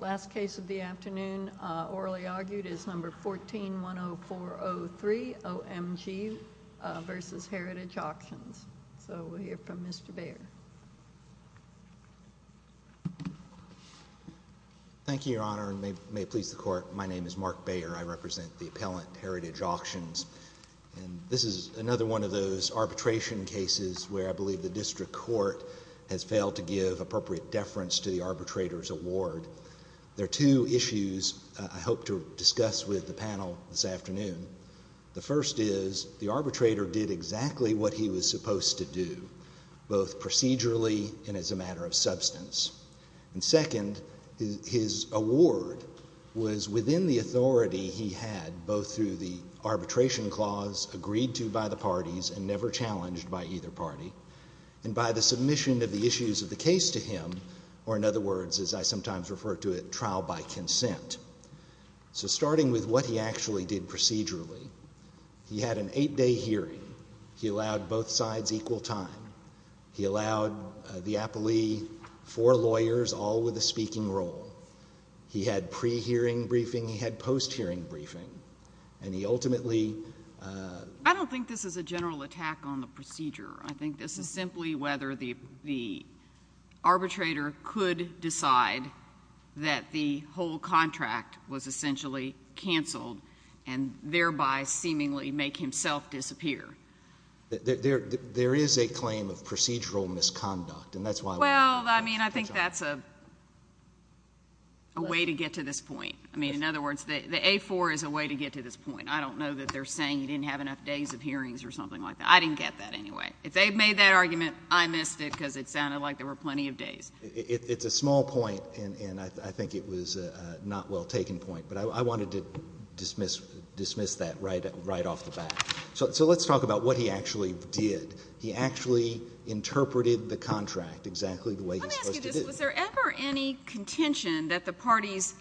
The last case of the afternoon, orally argued, is Number 14-10403, O.M.G. v. Heritage Auctions. So we'll hear from Mr. Baer. Thank you, Your Honor, and may it please the Court. My name is Mark Baer. I represent the appellant, Heritage Auctions. This is another one of those arbitration cases where I believe the district court has failed to give appropriate deference to the arbitrator's award. There are two issues I hope to discuss with the panel this afternoon. The first is, the arbitrator did exactly what he was supposed to do, both procedurally and as a matter of substance. And second, his award was within the authority he had, both through the arbitration clause agreed to by the parties and never challenged by either party, and by the submission of the issues of the case to him, or in other words, as I sometimes refer to it, trial by consent. So starting with what he actually did procedurally, he had an eight-day hearing. He allowed both sides equal time. He allowed the appellee four lawyers, all with a speaking role. He had pre-hearing briefing, he had post-hearing briefing. And he ultimately— I don't think this is a general attack on the procedure. I think this is simply whether the arbitrator could decide that the whole contract was essentially canceled and thereby seemingly make himself disappear. There is a claim of procedural misconduct, and that's why— Well, I mean, I think that's a way to get to this point. I mean, in other words, the A-4 is a way to get to this point. I don't know that they're saying he didn't have enough days of hearings or something like that. I didn't get that anyway. If they made that argument, I missed it because it sounded like there were plenty of days. It's a small point, and I think it was a not-well-taken point, but I wanted to dismiss that right off the bat. So let's talk about what he actually did. He actually interpreted the contract exactly the way he's supposed to do. Let me ask you this. Was there ever any contention that the parties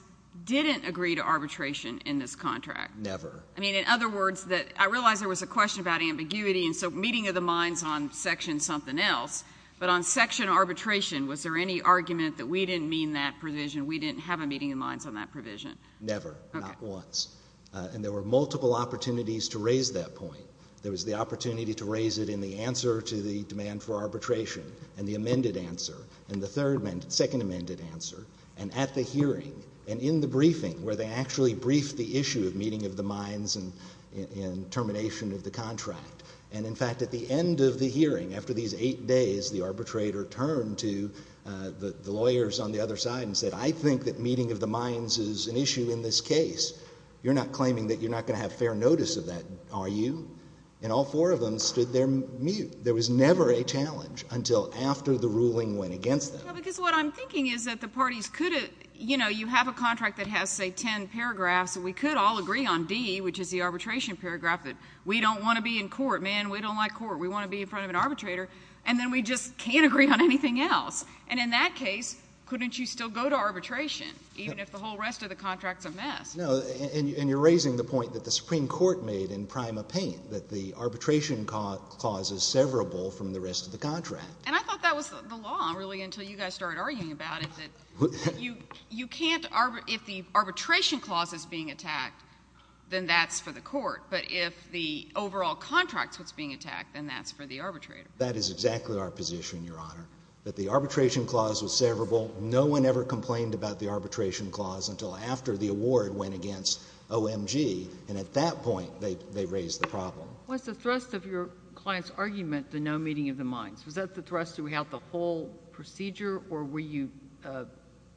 didn't agree to arbitration in this contract? Never. I mean, in other words, I realize there was a question about ambiguity, and so meeting of the minds on section something else, but on section arbitration, was there any argument that we didn't mean that provision, we didn't have a meeting of minds on that provision? Never. Not once. And there were multiple opportunities to raise that point. There was the opportunity to raise it in the answer to the demand for arbitration, and the amended answer, and the second amended answer, and at the hearing, and in the briefing where they actually briefed the issue of meeting of the minds and termination of the contract. And in fact, at the end of the hearing, after these eight days, the arbitrator turned to the lawyers on the other side and said, I think that meeting of the minds is an issue in this case. You're not claiming that you're not going to have fair notice of that, are you? And all four of them stood there mute. There was never a challenge until after the ruling went against them. Well, because what I'm thinking is that the parties could have, you know, you have a contract that has, say, ten paragraphs, and we could all agree on D, which is the arbitration paragraph, that we don't want to be in court. Man, we don't like court. We want to be in front of an arbitrator, and then we just can't agree on anything else. And in that case, couldn't you still go to arbitration, even if the whole rest of the contract's a mess? No. And you're raising the point that the Supreme Court made in Prima Pena, that the arbitration clause is severable from the rest of the contract. And I thought that was the law, really, until you guys started arguing about it, that you can't – if the arbitration clause is being attacked, then that's for the court. But if the overall contract's what's being attacked, then that's for the arbitrator. That is exactly our position, Your Honor, that the arbitration clause was severable. No one ever complained about the arbitration clause until after the award went against OMG. And at that point, they raised the problem. Was the thrust of your client's argument the no meeting of the minds? Was that the thrust throughout the whole procedure, or were you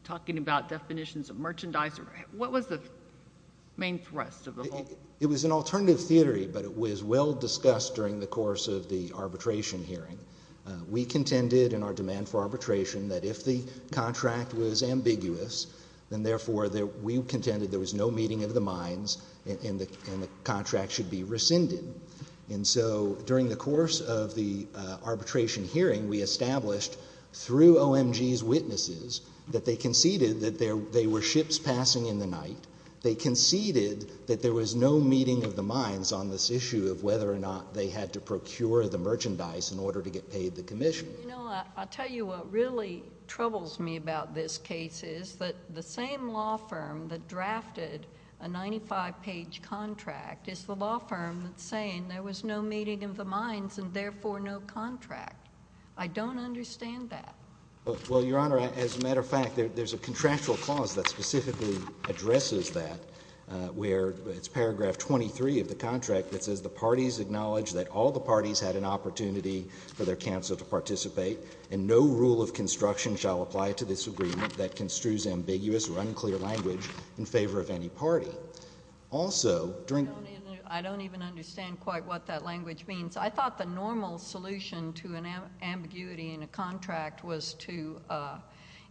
talking about definitions of merchandise? What was the main thrust of the whole? It was an alternative theory, but it was well-discussed during the course of the arbitration hearing. We contended in our demand for arbitration that if the contract was ambiguous, then therefore we contended there was no meeting of the minds and the contract should be rescinded. And so during the course of the arbitration hearing, we established through OMG's witnesses that they conceded that there were ships passing in the night. They conceded that there was no meeting of the minds on this issue of whether or not they had to procure the merchandise in order to get paid the commission. You know, I'll tell you what really troubles me about this case is that the same law firm that drafted a 95-page contract is the law firm that's saying there was no meeting of the minds and therefore no contract. I don't understand that. Well, Your Honor, as a matter of fact, there's a contractual clause that specifically addresses that where it's paragraph 23 of the contract that says the parties acknowledge that all the parties had an opportunity for their counsel to participate and no rule of construction shall apply to this agreement that construes ambiguous or unclear language in favor of any party. Also, during— I don't even understand quite what that language means. I thought the normal solution to an ambiguity in a contract was to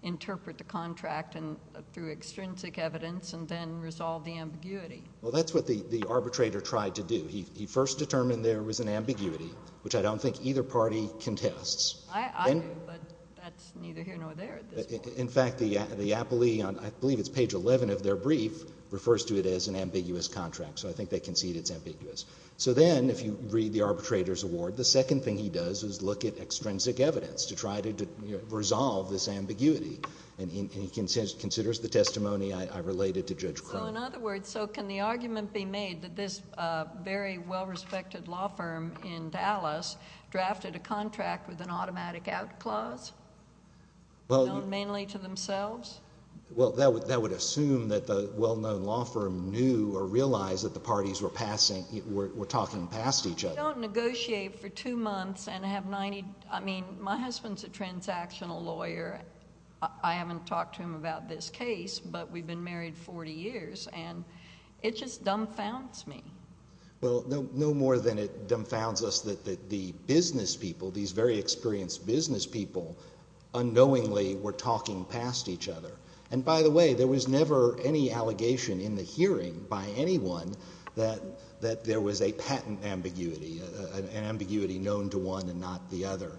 interpret the contract through extrinsic evidence and then resolve the ambiguity. Well, that's what the arbitrator tried to do. He first determined there was an ambiguity, which I don't think either party contests. I do, but that's neither here nor there at this point. In fact, the appellee on—I believe it's page 11 of their brief refers to it as an ambiguous contract, so I think they concede it's ambiguous. So then, if you read the arbitrator's award, the second thing he does is look at extrinsic evidence to try to resolve this ambiguity, and he considers the testimony I related to Judge Crone. So, in other words, so can the argument be made that this very well-respected law firm in Dallas drafted a contract with an automatic out clause, known mainly to themselves? Well, that would assume that the well-known law firm knew or realized that the parties were passing—were talking past each other. I don't negotiate for two months and have 90—I mean, my husband's a transactional lawyer. I haven't talked to him about this case, but we've been married 40 years, and it just dumbfounds me. Well, no more than it dumbfounds us that the business people, these very experienced business people, unknowingly were talking past each other. And by the way, there was never any allegation in the hearing by anyone that there was a ambiguity known to one and not the other,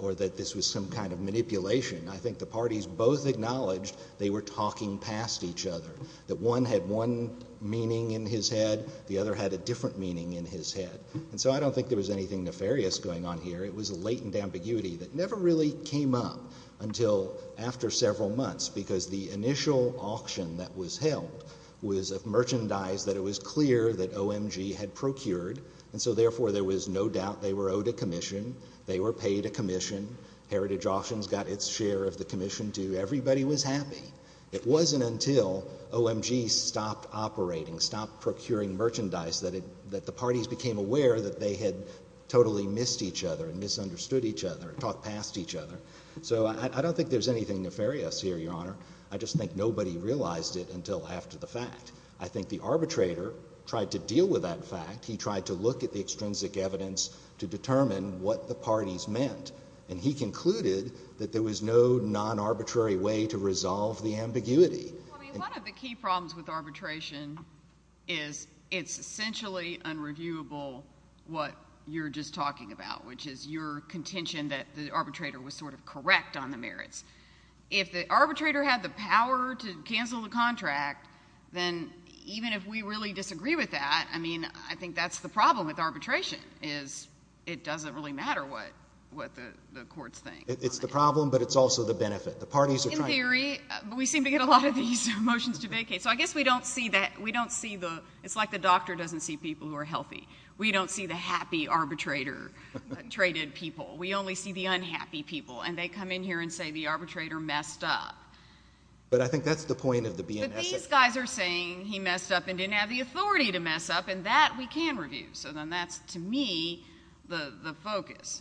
or that this was some kind of manipulation. I think the parties both acknowledged they were talking past each other, that one had one meaning in his head, the other had a different meaning in his head. And so I don't think there was anything nefarious going on here. It was a latent ambiguity that never really came up until after several months, because the initial auction that was held was of merchandise that it was clear that OMG had procured, and so therefore there was no doubt they were owed a commission. They were paid a commission. Heritage Auctions got its share of the commission, too. Everybody was happy. It wasn't until OMG stopped operating, stopped procuring merchandise, that the parties became aware that they had totally missed each other and misunderstood each other and talked past each other. So I don't think there's anything nefarious here, Your Honor. I just think nobody realized it until after the fact. I think the arbitrator tried to deal with that fact. He tried to look at the extrinsic evidence to determine what the parties meant, and he concluded that there was no non-arbitrary way to resolve the ambiguity. Well, I mean, one of the key problems with arbitration is it's essentially unreviewable what you're just talking about, which is your contention that the arbitrator was sort of correct on the merits. If the arbitrator had the power to cancel the contract, then even if we really disagree with that, I mean, I think that's the problem with arbitration is it doesn't really matter what the courts think. It's the problem, but it's also the benefit. The parties are trying— In theory. But we seem to get a lot of these motions to vacate. So I guess we don't see that. We don't see the—it's like the doctor doesn't see people who are healthy. We don't see the happy arbitrator-traded people. We only see the unhappy people, and they come in here and say the arbitrator messed up. But I think that's the point of the BNS— These guys are saying he messed up and didn't have the authority to mess up, and that we can review. So then that's, to me, the focus.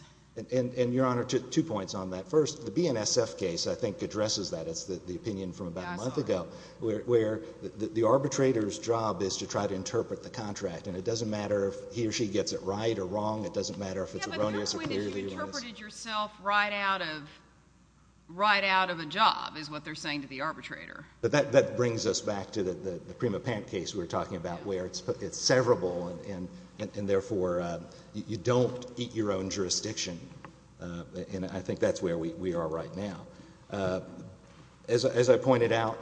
And Your Honor, two points on that. First, the BNSF case, I think, addresses that. It's the opinion from about a month ago, where the arbitrator's job is to try to interpret the contract, and it doesn't matter if he or she gets it right or wrong. It doesn't matter if it's erroneous or clearly erroneous. Yeah, but your point is you interpreted yourself right out of a job is what they're saying to the arbitrator. But that brings us back to the Prima Pant case we were talking about, where it's severable, and therefore, you don't eat your own jurisdiction, and I think that's where we are right now. As I pointed out,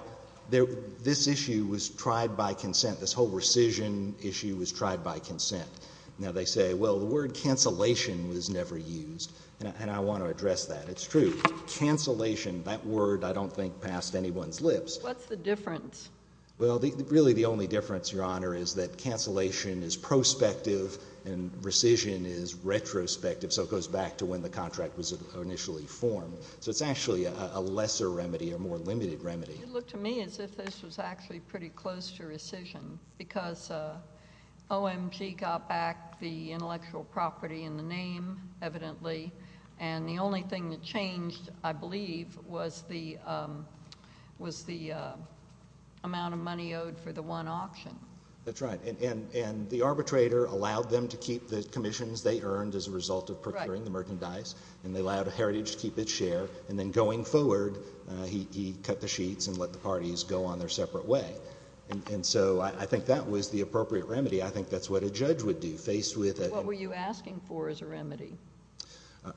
this issue was tried by consent. This whole rescission issue was tried by consent. Now, they say, well, the word cancellation was never used, and I want to address that. It's true. But cancellation, that word, I don't think, passed anyone's lips. What's the difference? Well, really, the only difference, Your Honor, is that cancellation is prospective, and rescission is retrospective, so it goes back to when the contract was initially formed. So it's actually a lesser remedy, a more limited remedy. It looked to me as if this was actually pretty close to rescission, because OMG got back the intellectual property in the name, evidently, and the only thing that changed, I believe, was the amount of money owed for the one auction. That's right, and the arbitrator allowed them to keep the commissions they earned as a result of procuring the merchandise, and they allowed Heritage to keep its share, and then going forward, he cut the sheets and let the parties go on their separate way. And so I think that was the appropriate remedy. I think that's what a judge would do, faced with a— What were you asking for as a remedy?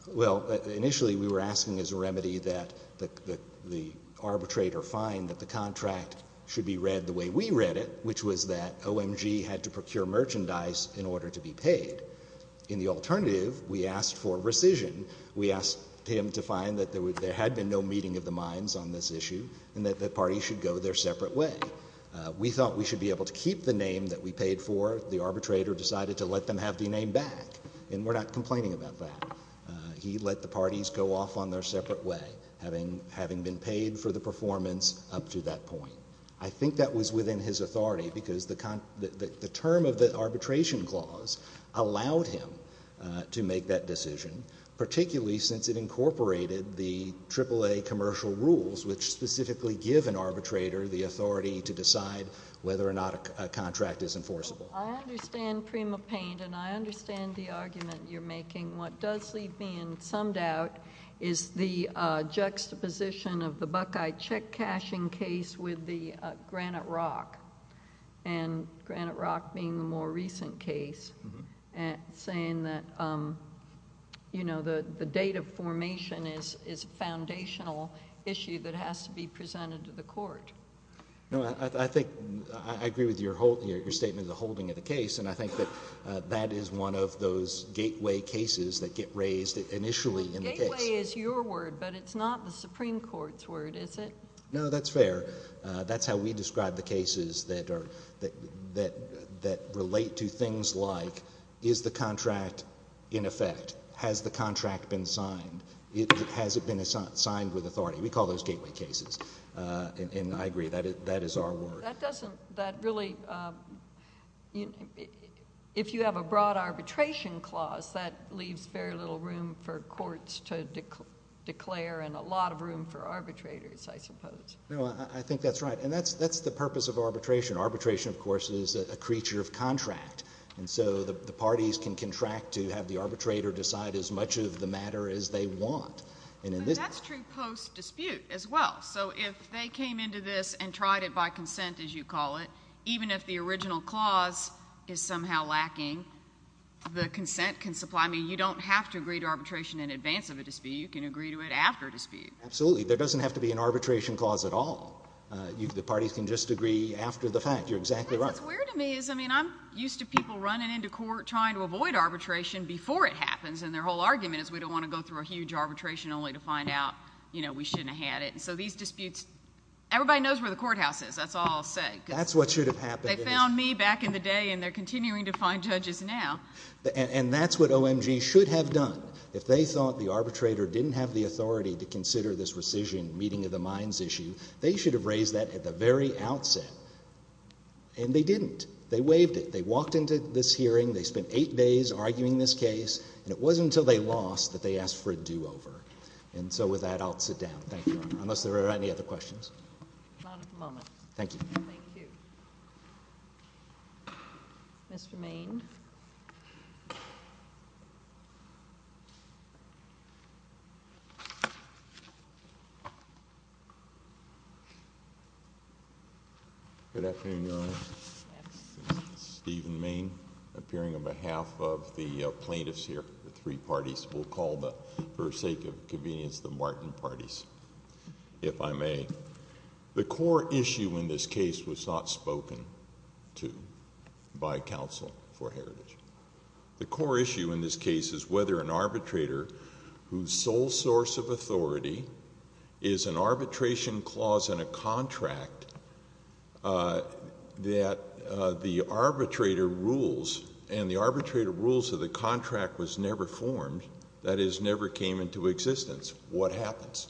Well, initially, we were asking as a remedy that the arbitrator find that the contract should be read the way we read it, which was that OMG had to procure merchandise in order to be paid. In the alternative, we asked for rescission. We asked him to find that there had been no meeting of the minds on this issue, and that the parties should go their separate way. We thought we should be able to keep the name that we paid for. The arbitrator decided to let them have the name back, and we're not complaining about that. He let the parties go off on their separate way, having been paid for the performance up to that point. I think that was within his authority, because the term of the arbitration clause allowed him to make that decision, particularly since it incorporated the AAA commercial rules, which specifically give an arbitrator the authority to decide whether or not a contract is enforceable. I understand, Prima Paine, and I understand the argument you're making. What does leave me in some doubt is the juxtaposition of the Buckeye check cashing case with the Granite Rock, and Granite Rock being the more recent case, and saying that the date of formation is a foundational issue that has to be presented to the court. I agree with your statement of the holding of the case, and I think that that is one of those gateway cases that get raised initially in the case. Gateway is your word, but it's not the Supreme Court's word, is it? No, that's fair. That's how we describe the cases that relate to things like, is the contract in effect? Has the contract been signed? Has it been signed with authority? We call those gateway cases, and I agree. That is our word. That doesn't... That really... If you have a broad arbitration clause, that leaves very little room for courts to declare, and a lot of room for arbitrators, I suppose. No, I think that's right, and that's the purpose of arbitration. Arbitration, of course, is a creature of contract, and so the parties can contract to have the way they want. But that's true post-dispute as well. So if they came into this and tried it by consent, as you call it, even if the original clause is somehow lacking, the consent can supply... I mean, you don't have to agree to arbitration in advance of a dispute. You can agree to it after a dispute. Absolutely. There doesn't have to be an arbitration clause at all. The parties can just agree after the fact. You're exactly right. What's weird to me is, I mean, I'm used to people running into court trying to avoid arbitration before it happens, and their whole argument is, we don't want to go through a huge arbitration only to find out we shouldn't have had it. So these disputes, everybody knows where the courthouse is. That's all I'll say. That's what should have happened. They found me back in the day, and they're continuing to find judges now. And that's what OMG should have done. If they thought the arbitrator didn't have the authority to consider this rescission meeting of the minds issue, they should have raised that at the very outset, and they didn't. They waived it. They walked into this hearing, they spent eight days arguing this case, and it wasn't until they lost that they asked for a do-over. And so with that, I'll sit down. Thank you, Your Honor. Unless there are any other questions? Not at the moment. Thank you. Thank you. Mr. Main. Good afternoon, Your Honor. Stephen Main, appearing on behalf of the plaintiffs here, the three plaintiffs. We'll call, for the sake of convenience, the Martin parties, if I may. The core issue in this case was not spoken to by counsel for Heritage. The core issue in this case is whether an arbitrator whose sole source of authority is an arbitration clause in a contract that the arbitrator rules, and the arbitrator rules of the contract was never formed, that is, never came into existence. What happens?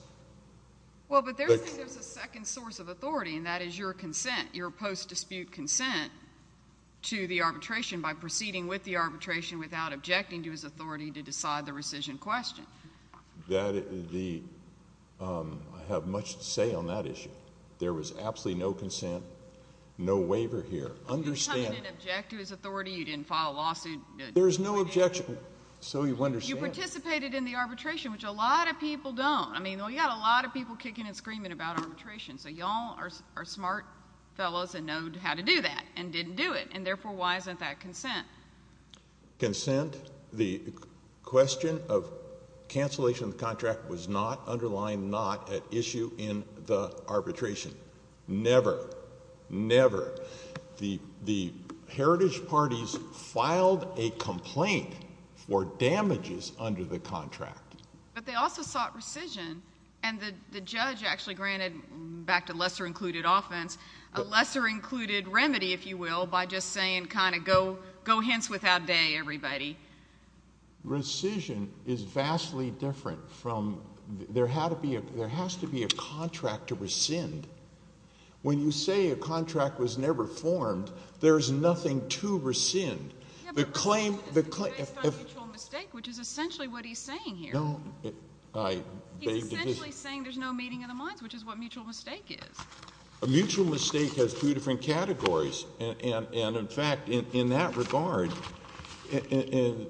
Well, but there's a second source of authority, and that is your consent, your post-dispute consent to the arbitration by proceeding with the arbitration without objecting to his authority to decide the rescission question. I have much to say on that issue. There was absolutely no consent, no waiver here. Understand— You're not going to object to his authority? You didn't file a lawsuit? There's no objection. So you understand. You participated in the arbitration, which a lot of people don't. I mean, you got a lot of people kicking and screaming about arbitration, so y'all are smart fellows and know how to do that, and didn't do it, and therefore, why isn't that consent? Consent, the question of cancellation of the contract was not underlined, not at issue in the arbitration, never, never. The heritage parties filed a complaint for damages under the contract. But they also sought rescission, and the judge actually granted, back to lesser-included offense, a lesser-included remedy, if you will, by just saying kind of go hence without day, everybody. Rescission is vastly different from—there has to be a contract to rescind. When you say a contract was never formed, there's nothing to rescind. The claim— Yeah, but the claim is based on mutual mistake, which is essentially what he's saying here. No. I beg to differ. He's essentially saying there's no meeting of the minds, which is what mutual mistake is. A mutual mistake has two different categories, and in fact, in that regard,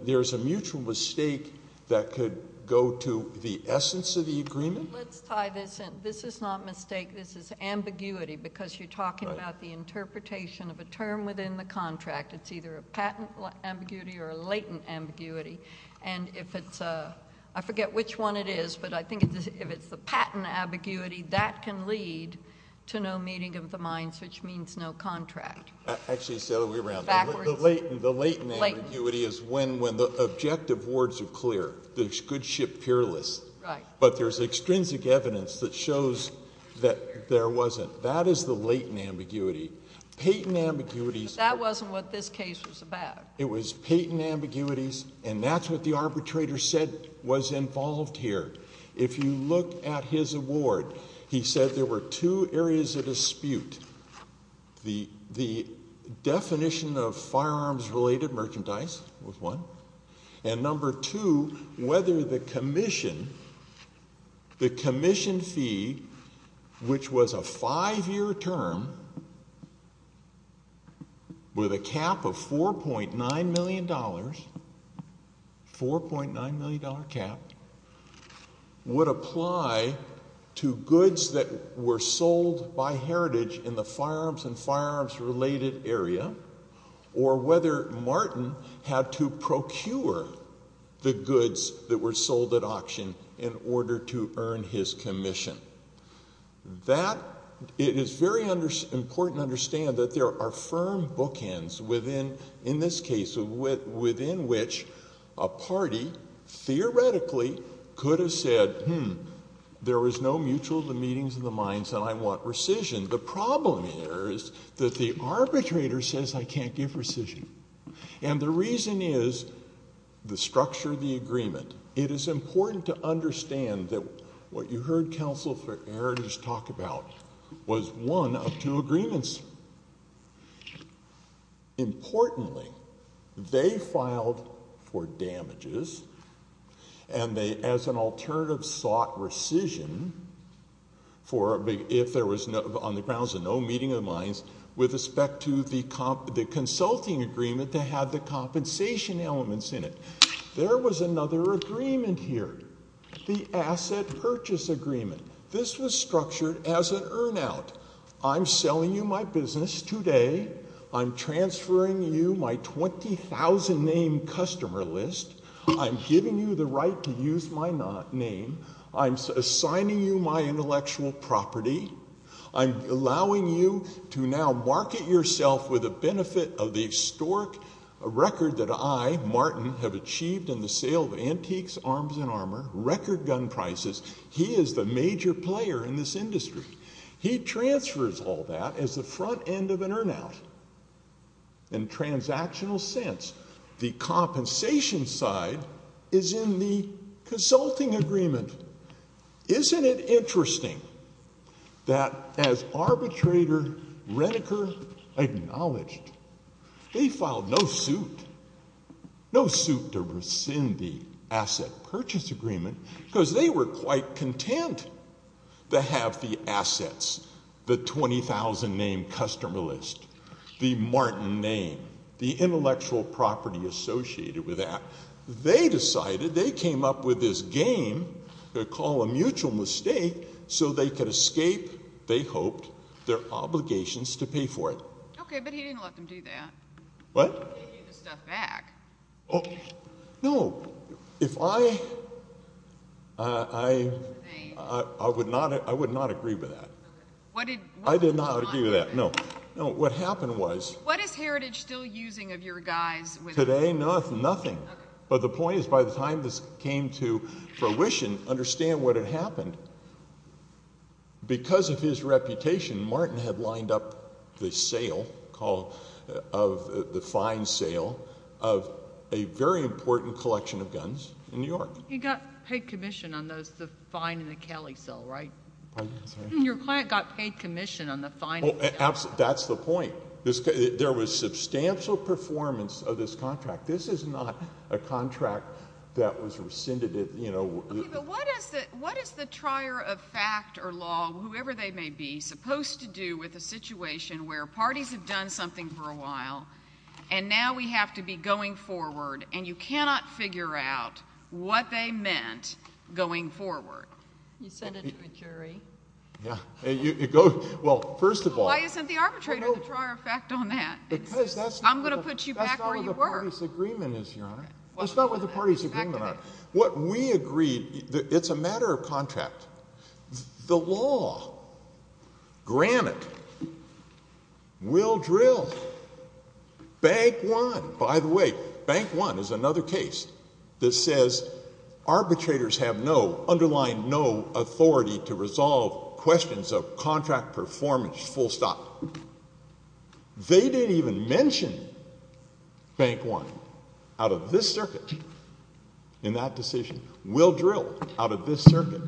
there's a mutual mistake that could go to the essence of the agreement. Let's tie this in. This is not mistake. I think this is ambiguity because you're talking about the interpretation of a term within the contract. It's either a patent ambiguity or a latent ambiguity, and if it's—I forget which one it is, but I think if it's the patent ambiguity, that can lead to no meeting of the minds, which means no contract. Actually, it's the other way around. Backwards. The latent ambiguity is when the objective words are clear, the good ship peerless. Right. But there's extrinsic evidence that shows that there wasn't. That is the latent ambiguity. Patent ambiguities— That wasn't what this case was about. It was patent ambiguities, and that's what the arbitrator said was involved here. If you look at his award, he said there were two areas of dispute. The definition of firearms-related merchandise was one, and number two, whether the commission fee, which was a five-year term with a cap of $4.9 million, $4.9 million cap, would apply to goods that were sold by Heritage in the firearms and firearms-related area, or whether Martin had to procure the goods that were sold at auction in order to earn his commission. It is very important to understand that there are firm bookends within, in this case, within which a party theoretically could have said, hmm, there was no mutual of the meetings of the minds, and I want rescission. The problem here is that the arbitrator says, I can't give rescission. And the reason is the structure of the agreement. It is important to understand that what you heard counsel for Heritage talk about was one of two agreements. Importantly, they filed for damages, and they, as an alternative, sought rescission for if there was, on the grounds of no meeting of the minds, with respect to the consulting agreement that had the compensation elements in it. There was another agreement here, the asset purchase agreement. This was structured as an earn-out. I'm selling you my business today, I'm transferring you my 20,000-name customer list, I'm giving you the right to use my name, I'm assigning you my intellectual property, I'm allowing you to now market yourself with the benefit of the historic record that I, Martin, have achieved in the sale of antiques, arms, and armor, record gun prices. He is the major player in this industry. He transfers all that as the front end of an earn-out, in a transactional sense. The compensation side is in the consulting agreement. Isn't it interesting that as arbitrator Reneker acknowledged, they filed no suit, no suit to rescind the asset purchase agreement, because they were quite content to have the assets, the 20,000-name customer list, the Martin name, the intellectual property associated with that. They decided, they came up with this game, called a mutual mistake, so they could escape, they hoped, their obligations to pay for it. Okay, but he didn't let them do that. What? He gave the stuff back. Oh, no, if I, I, I would not, I would not agree with that. What did, what went on? I did not agree with that. No, no, what happened was... What is Heritage still using of your guys? Today? No, nothing. Okay. But the point is, by the time this came to fruition, understand what had happened. Because of his reputation, Martin had lined up the sale, call, of the fine sale of a very important collection of guns in New York. He got paid commission on those, the fine and the Kelly sale, right? Your client got paid commission on the fine and the Kelly sale. That's the point. There was substantial performance of this contract. This is not a contract that was rescinded at, you know... Okay, but what is the, what is the trier of fact or law, whoever they may be, supposed to do with a situation where parties have done something for a while, and now we have to be going forward, and you cannot figure out what they meant going forward? You send it to a jury. Yeah, it goes, well, first of all... Why isn't the arbitrator the trier of fact on that? Because that's not... I'm going to put you back where you were. That's not where the party's agreement is, Your Honor. That's not where the party's agreement are. What we agreed, it's a matter of contract. The law, granted, will drill. Bank one, by the way, bank one is another case that says arbitrators have no, underline no authority to resolve questions of contract performance, full stop. They didn't even mention bank one. Out of this circuit, in that decision, will drill out of this circuit.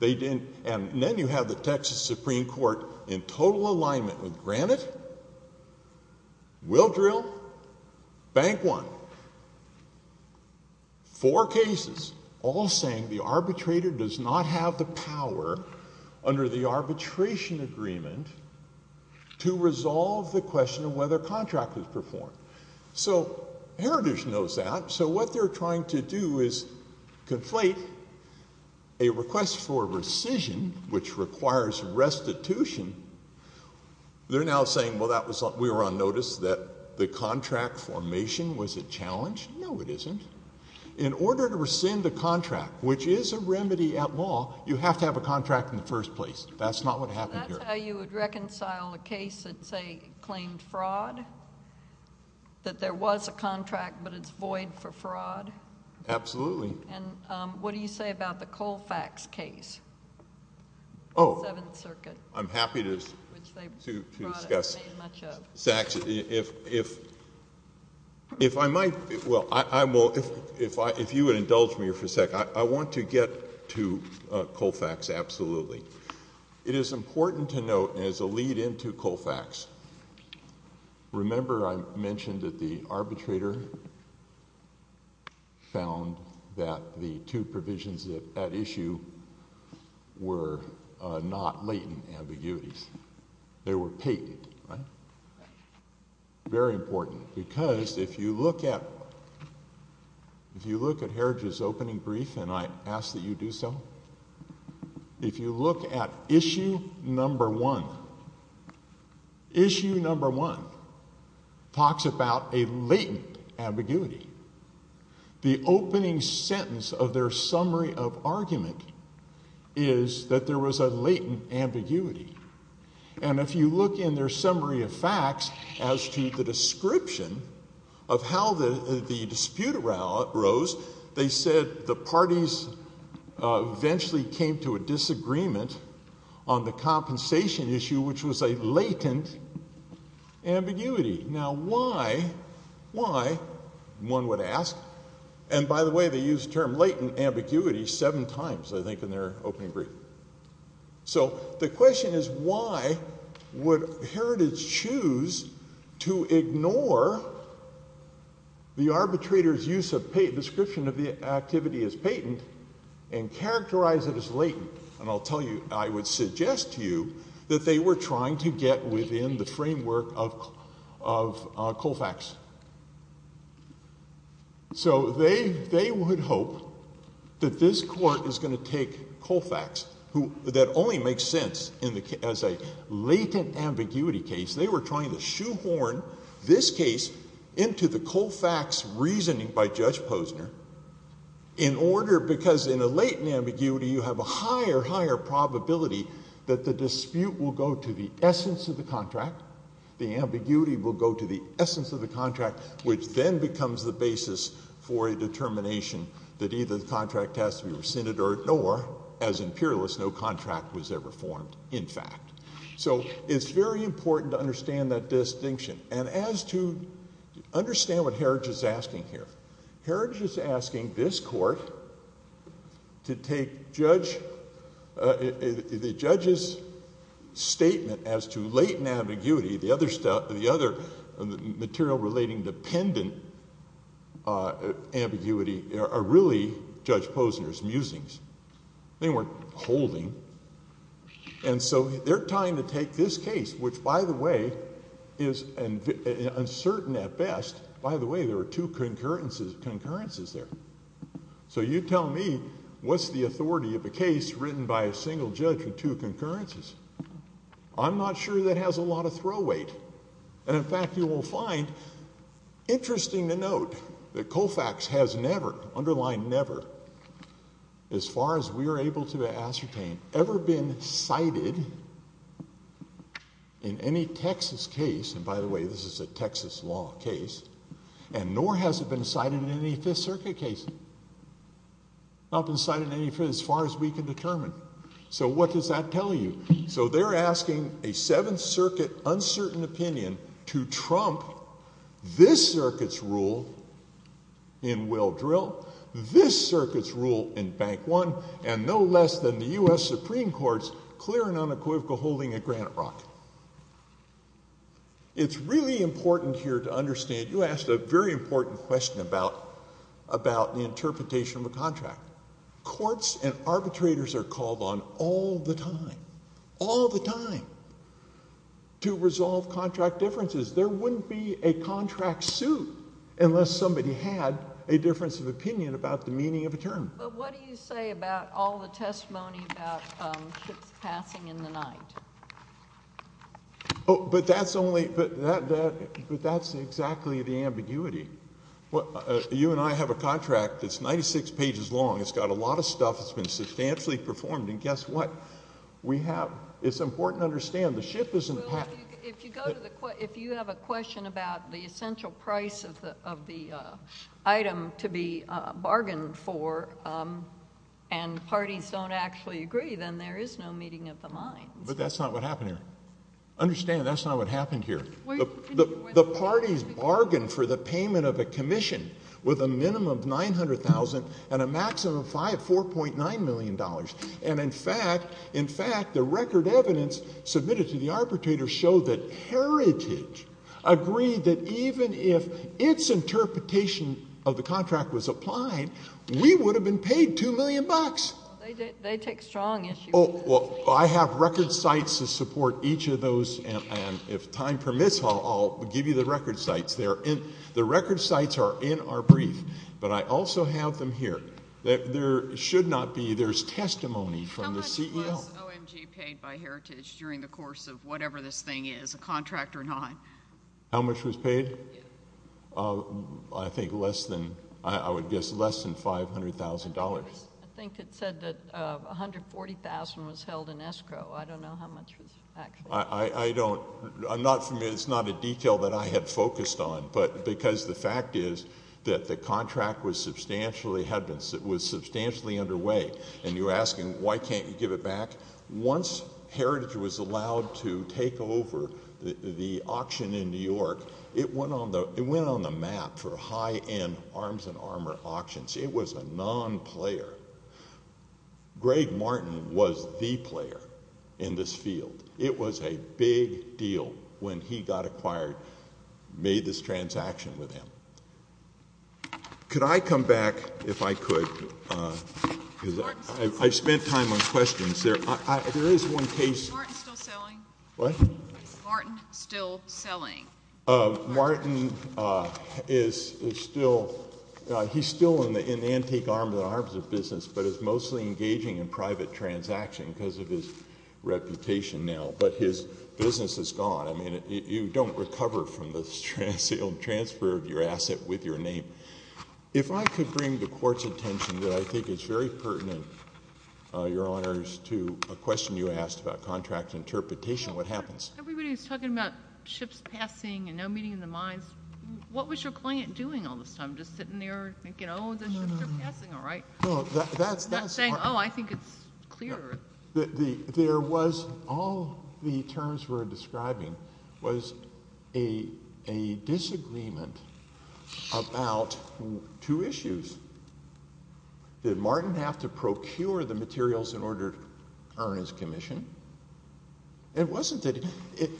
They didn't... And then you have the Texas Supreme Court in total alignment with, granted, will drill, bank one. Four cases, all saying the arbitrator does not have the power, under the arbitration agreement, to resolve the question of whether a contract is performed. So Heritage knows that. So what they're trying to do is conflate a request for rescission, which requires restitution. They're now saying, well, we were on notice that the contract formation was a challenge. No, it isn't. In order to rescind a contract, which is a remedy at law, you have to have a contract in the first place. That's not what happened here. That's how you would reconcile a case that claimed fraud? That there was a contract, but it's void for fraud? Absolutely. And what do you say about the Colfax case, the Seventh Circuit? I'm happy to discuss. Sachs, if I might, well, if you would indulge me for a second. I want to get to Colfax, absolutely. It is important to note, as a lead into Colfax, remember I mentioned that the arbitrator found that the two provisions at issue were not latent ambiguities. They were patented, right? Very important. Because if you look at Heritage's opening brief, and I ask that you do so, if you look at issue number one, issue number one talks about a latent ambiguity. The opening sentence of their summary of argument is that there was a latent ambiguity. And if you look in their summary of facts as to the description of how the dispute arose, they said the parties eventually came to a disagreement on the compensation issue, which was a latent ambiguity. Now why, why, one would ask, and by the way, they used the term latent ambiguity seven times, I think, in their opening brief. So the question is why would Heritage choose to ignore the arbitrator's use of, description of the activity as patent, and characterize it as latent? And I'll tell you, I would suggest to you that they were trying to get within the framework of Colfax. So they, they would hope that this court is going to take Colfax, who, that only makes sense in the, as a latent ambiguity case. They were trying to shoehorn this case into the Colfax reasoning by Judge Posner in order, because in a latent ambiguity, you have a higher, higher probability that the dispute will go to the essence of the contract. The ambiguity will go to the essence of the contract, which then becomes the basis for a determination that either the contract has to be rescinded or, as imperialists, no contract was ever formed, in fact. So it's very important to understand that distinction, and as to understand what Heritage is asking here, Heritage is asking this court to take Judge, the judge's statement as to latent ambiguity. The other stuff, the other material relating dependent ambiguity are really Judge Posner's musings. They weren't holding. And so they're trying to take this case, which, by the way, is uncertain at best. By the way, there are two concurrences there. So you tell me, what's the authority of a case written by a single judge with two concurrences? I'm not sure that has a lot of throw weight, and in fact, you will find, interesting to note, that Colfax has never, underline never, as far as we are able to ascertain, ever been cited in any Texas case, and by the way, this is a Texas law case, and nor has it been cited in any Fifth Circuit case, not been cited in any, as far as we can determine. So what does that tell you? So they're asking a Seventh Circuit uncertain opinion to trump this circuit's rule in Will Drill, this circuit's rule in Bank One, and no less than the U.S. Supreme Court's clear and unequivocal holding at Granite Rock. It's really important here to understand, you asked a very important question about the interpretation of a contract. Courts and arbitrators are called on all the time, all the time, to resolve contract differences. There wouldn't be a contract suit unless somebody had a difference of opinion about the meaning of a term. But what do you say about all the testimony about ships passing in the night? But that's only, but that's exactly the ambiguity. You and I have a contract that's 96 pages long. It's got a lot of stuff that's been substantially performed, and guess what? We have, it's important to understand, the ship isn't passing. Well, if you go to the, if you have a question about the essential price of the item to be bargained for, and parties don't actually agree, then there is no meeting of the minds. But that's not what happened here. Understand that's not what happened here. The parties bargained for the payment of a commission with a minimum of $900,000 and a maximum of $4.9 million. And in fact, in fact, the record evidence submitted to the arbitrator showed that Heritage agreed that even if its interpretation of the contract was applied, we would have been paid $2 million. They take strong issues. Well, I have record sites to support each of those, and if time permits, I'll give you the record sites. They're in, the record sites are in our brief, but I also have them here. There should not be, there's testimony from the CEO. How much was OMG paid by Heritage during the course of whatever this thing is, a contract or not? How much was paid? I think less than, I would guess less than $500,000. I think it said that $140,000 was held in escrow. I don't know how much was actually paid. I don't, I'm not familiar, it's not a detail that I had focused on, but because the fact is that the contract was substantially, had been, was substantially underway, and you're asking why can't you give it back? Once Heritage was allowed to take over the auction in New York, it went on the map for high-end arms and armor auctions. It was a non-player. Greg Martin was the player in this field. It was a big deal when he got acquired, made this transaction with him. Could I come back, if I could, because I've spent time on questions there. There is one case. Is Martin still selling? What? Is Martin still selling? Martin is still, he's still in the antique arms, the arms of business, but is mostly engaging in private transaction because of his reputation now, but his business is gone. I mean, you don't recover from the transfer of your asset with your name. If I could bring the Court's attention that I think is very pertinent, Your Honors, to a question you asked about contract interpretation, what happens? Everybody was talking about ships passing and no meeting in the mines. What was your client doing all this time, just sitting there thinking, oh, the ships are passing, all right, not saying, oh, I think it's clear. There was, all the terms we're describing was a disagreement about two issues, did Martin have to procure the materials in order to earn his commission? It wasn't that,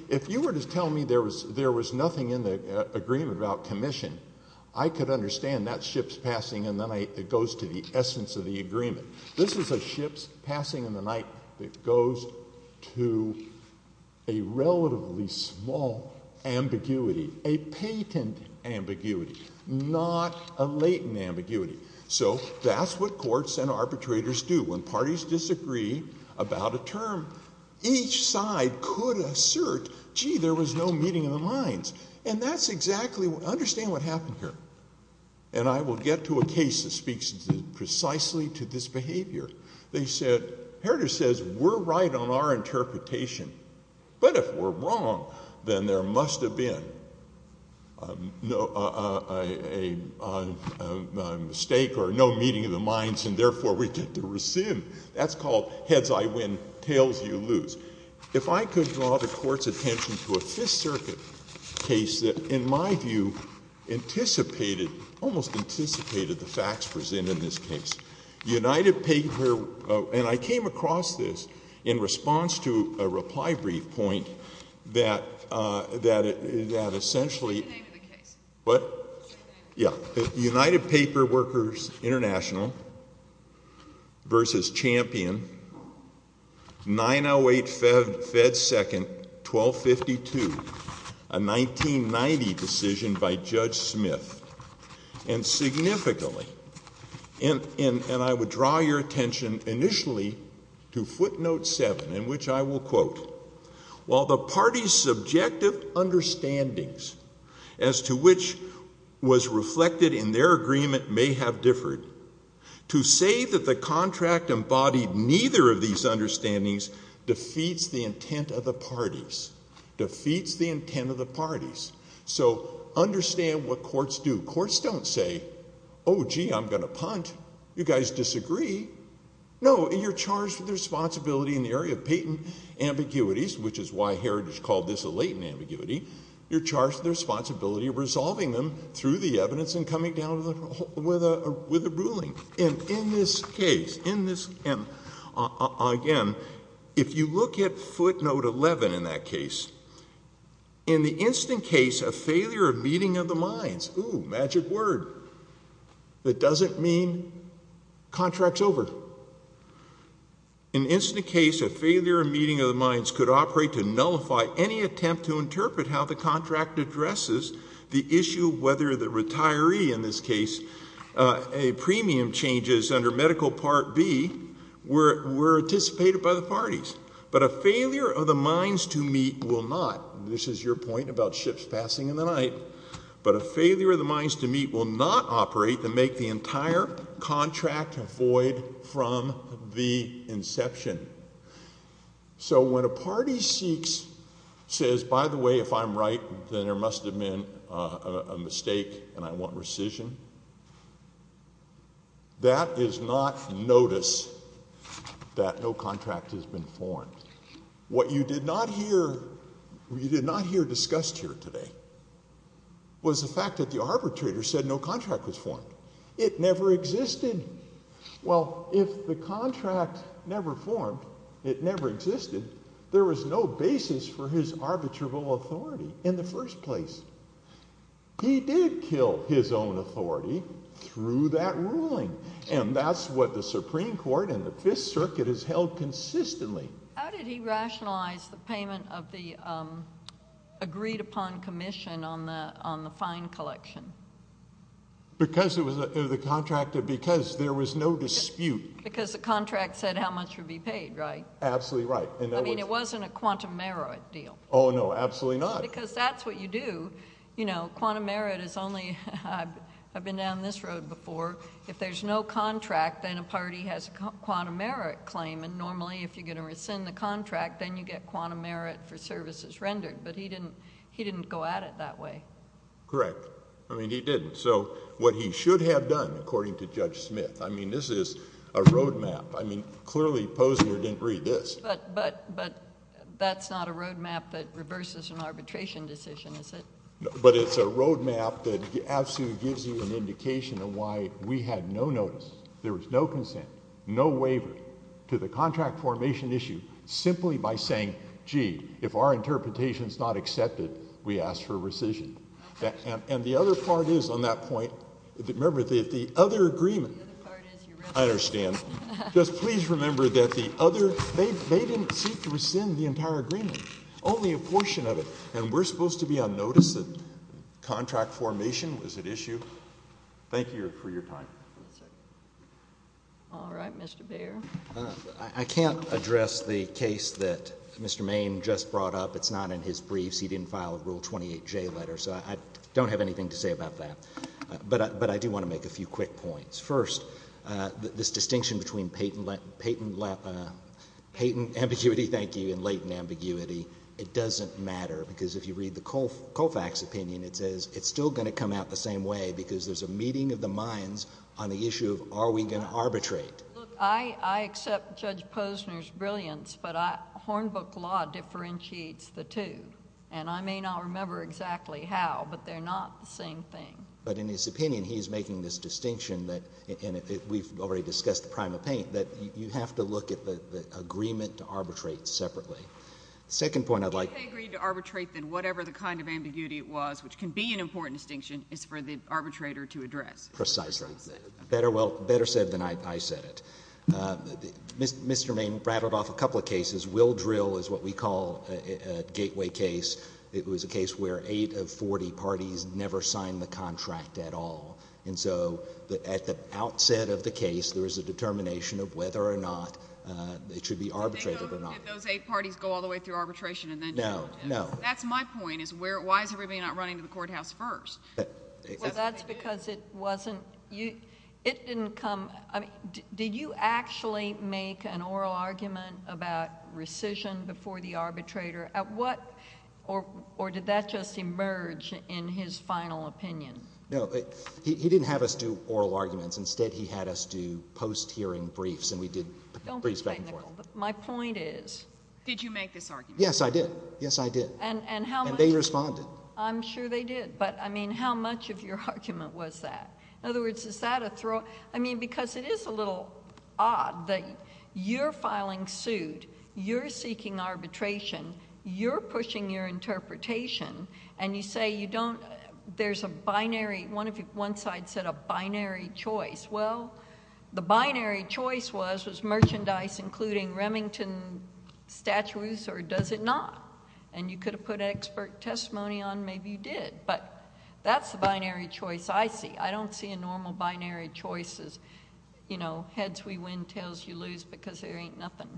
if you were to tell me there was nothing in the agreement about commission, I could understand that ships passing in the night that goes to the essence of the agreement. This is a ships passing in the night that goes to a relatively small ambiguity, a patent ambiguity, not a latent ambiguity. So that's what courts and arbitrators do. When parties disagree about a term, each side could assert, gee, there was no meeting in the mines. And that's exactly, understand what happened here. And I will get to a case that speaks precisely to this behavior. They said, Heritage says we're right on our interpretation, but if we're wrong, then there is a mistake, or no meeting in the mines, and therefore we get to resume. That's called heads I win, tails you lose. If I could draw the court's attention to a Fifth Circuit case that, in my view, anticipated, almost anticipated the facts presented in this case, United Paper, and I came across this in response to a reply brief point that essentially, United Paper Workers International v. Champion, 908 Fed Second, 1252, a 1990 decision by Judge Smith, and significantly, and I would draw your attention initially to footnote seven, in which I will quote, while the parties' subjective understandings as to which was reflected in their agreement may have differed, to say that the contract embodied neither of these understandings defeats the intent of the parties, defeats the intent of the parties. So understand what courts do. Courts don't say, oh, gee, I'm going to punt. You guys disagree. No, and you're charged with responsibility in the area of patent ambiguities, which is why Heritage called this a latent ambiguity. You're charged with the responsibility of resolving them through the evidence and coming down with a ruling, and in this case, again, if you look at footnote 11 in that case, in the instant case of failure of meeting of the minds, ooh, magic word, that doesn't mean contract's over. In the instant case of failure of meeting of the minds could operate to nullify any attempt to interpret how the contract addresses the issue of whether the retiree, in this case, a premium changes under medical part B were anticipated by the parties, but a failure of the minds to meet will not, this is your point about ships passing in the night, but a failure of the minds to meet will not operate to make the entire contract void from the inception. So when a party seeks, says, by the way, if I'm right, then there must have been a mistake and I want rescission, that is not notice that no contract has been formed. What you did not hear, you did not hear discussed here today was the fact that the arbitrator said no contract was formed. It never existed. Well if the contract never formed, it never existed, there was no basis for his arbitrable authority in the first place. He did kill his own authority through that ruling, and that's what the Supreme Court and the Fifth Circuit has held consistently. How did he rationalize the payment of the agreed upon commission on the fine collection? Because it was the contract, because there was no dispute. Because the contract said how much would be paid, right? Absolutely right. I mean it wasn't a quantum merit deal. Oh no, absolutely not. Because that's what you do. You know, quantum merit is only, I've been down this road before, if there's no contract then a party has a quantum merit claim and normally if you're going to rescind the contract then you get quantum merit for services rendered, but he didn't go at it that way. Correct. I mean he didn't. So what he should have done, according to Judge Smith, I mean this is a roadmap. I mean clearly Posner didn't read this. But that's not a roadmap that reverses an arbitration decision, is it? But it's a roadmap that absolutely gives you an indication of why we had no notice, there was no consent, no waiver to the contract formation issue simply by saying, gee, if our interpretation's not accepted, we ask for rescission. And the other part is on that point, remember the other agreement. I understand. Just please remember that the other, they didn't seek to rescind the entire agreement. Only a portion of it. And we're supposed to be on notice that contract formation was at issue? Thank you for your time. All right. Mr. Bair. I can't address the case that Mr. Main just brought up. It's not in his briefs. He didn't file a Rule 28J letter, so I don't have anything to say about that. But I do want to make a few quick points. First, this distinction between patent ambiguity, thank you, and latent ambiguity, it doesn't matter. Because if you read the Colfax opinion, it says it's still going to come out the same way because there's a meeting of the minds on the issue of are we going to arbitrate. I accept Judge Posner's brilliance, but Hornbook law differentiates the two. And I may not remember exactly how, but they're not the same thing. But in his opinion, he's making this distinction that, and we've already discussed the prime of paint, that you have to look at the agreement to arbitrate separately. Second point I'd like— If they agreed to arbitrate, then whatever the kind of ambiguity it was, which can be an important distinction, is for the arbitrator to address. Precisely. Better said than I said it. Mr. Main rattled off a couple of cases. Will Drill is what we call a gateway case. It was a case where eight of forty parties never signed the contract at all. And so, at the outset of the case, there was a determination of whether or not it should be arbitrated or not. Did those eight parties go all the way through arbitration and then— No. No. That's my point, is why is everybody not running to the courthouse first? Well, that's because it wasn't—it didn't come—I mean, did you actually make an oral argument about rescission before the arbitrator at what—or did that just emerge in his final opinion? No. He didn't have us do oral arguments. Instead, he had us do post-hearing briefs, and we did briefs back and forth. My point is— Did you make this argument? Yes, I did. Yes, I did. And how much— And they responded. I'm sure they did. But, I mean, how much of your argument was that? In other words, is that a throw—I mean, because it is a little odd that your final filing sued, you're seeking arbitration, you're pushing your interpretation, and you say you don't—there's a binary—one side said a binary choice. Well, the binary choice was, was merchandise including Remington statues or does it not? And you could have put expert testimony on, maybe you did, but that's the binary choice I see. I don't see a normal binary choice as, you know, heads we win, tails you lose, because there ain't nothing.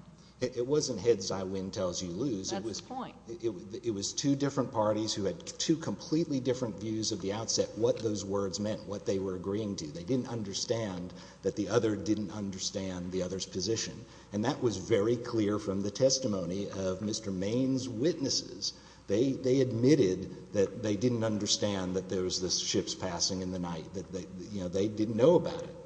It wasn't heads I win, tails you lose. That's the point. It was two different parties who had two completely different views of the outset, what those words meant, what they were agreeing to. They didn't understand that the other didn't understand the other's position. And that was very clear from the testimony of Mr. Maine's witnesses. They admitted that they didn't understand that there was this ship's passing in the night, that, you know, they didn't know about it.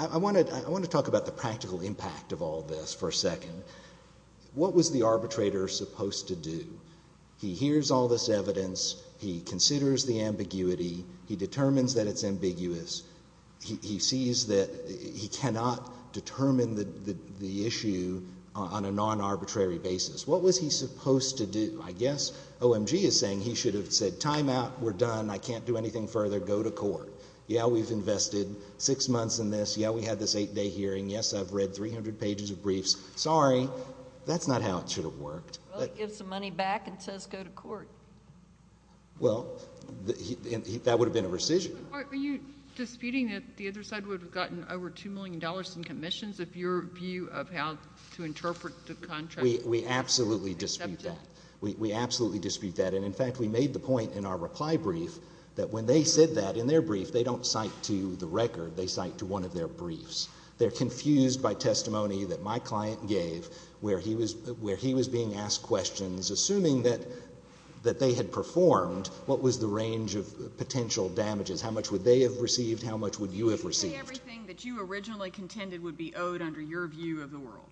I want to talk about the practical impact of all this for a second. What was the arbitrator supposed to do? He hears all this evidence, he considers the ambiguity, he determines that it's ambiguous, he sees that he cannot determine the issue on a non-arbitrary basis. What was he supposed to do? I guess OMG is saying he should have said, time out, we're done, I can't do anything further, go to court. Yeah, we've invested six months in this, yeah, we had this eight-day hearing, yes, I've read 300 pages of briefs, sorry. That's not how it should have worked. Well, he gives the money back and says go to court. Well, that would have been a rescission. Are you disputing that the other side would have gotten over $2 million in commissions if your view of how to interpret the contract... We absolutely dispute that. We absolutely dispute that, and in fact, we made the point in our reply brief that when they said that in their brief, they don't cite to the record, they cite to one of their briefs. They're confused by testimony that my client gave where he was being asked questions, assuming that they had performed, what was the range of potential damages? How much would they have received? How much would you have received? Would you say everything that you originally contended would be owed under your view of the world?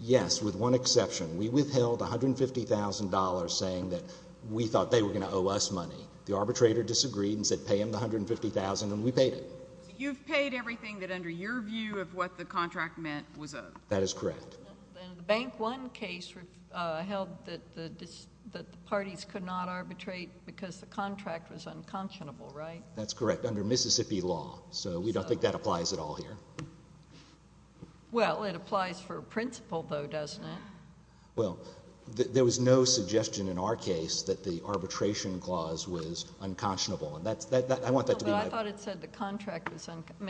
Yes, with one exception. We withheld $150,000 saying that we thought they were going to owe us money. The arbitrator disagreed and said pay him the $150,000, and we paid it. You've paid everything that under your view of what the contract meant was owed. That is correct. And the Bank One case held that the parties could not arbitrate because the contract was unconscionable, right? That's correct, under Mississippi law, so we don't think that applies at all here. Well, it applies for a principal, though, doesn't it? Well, there was no suggestion in our case that the arbitration clause was unconscionable. I want that to be my point. I thought it said the contract was unconscionable.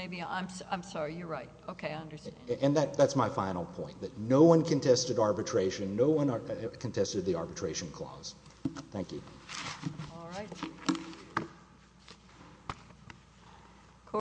I'm sorry, you're right. Okay, I understand. And that's my final point, that no one contested arbitration, no one contested the arbitration clause. Thank you. All right.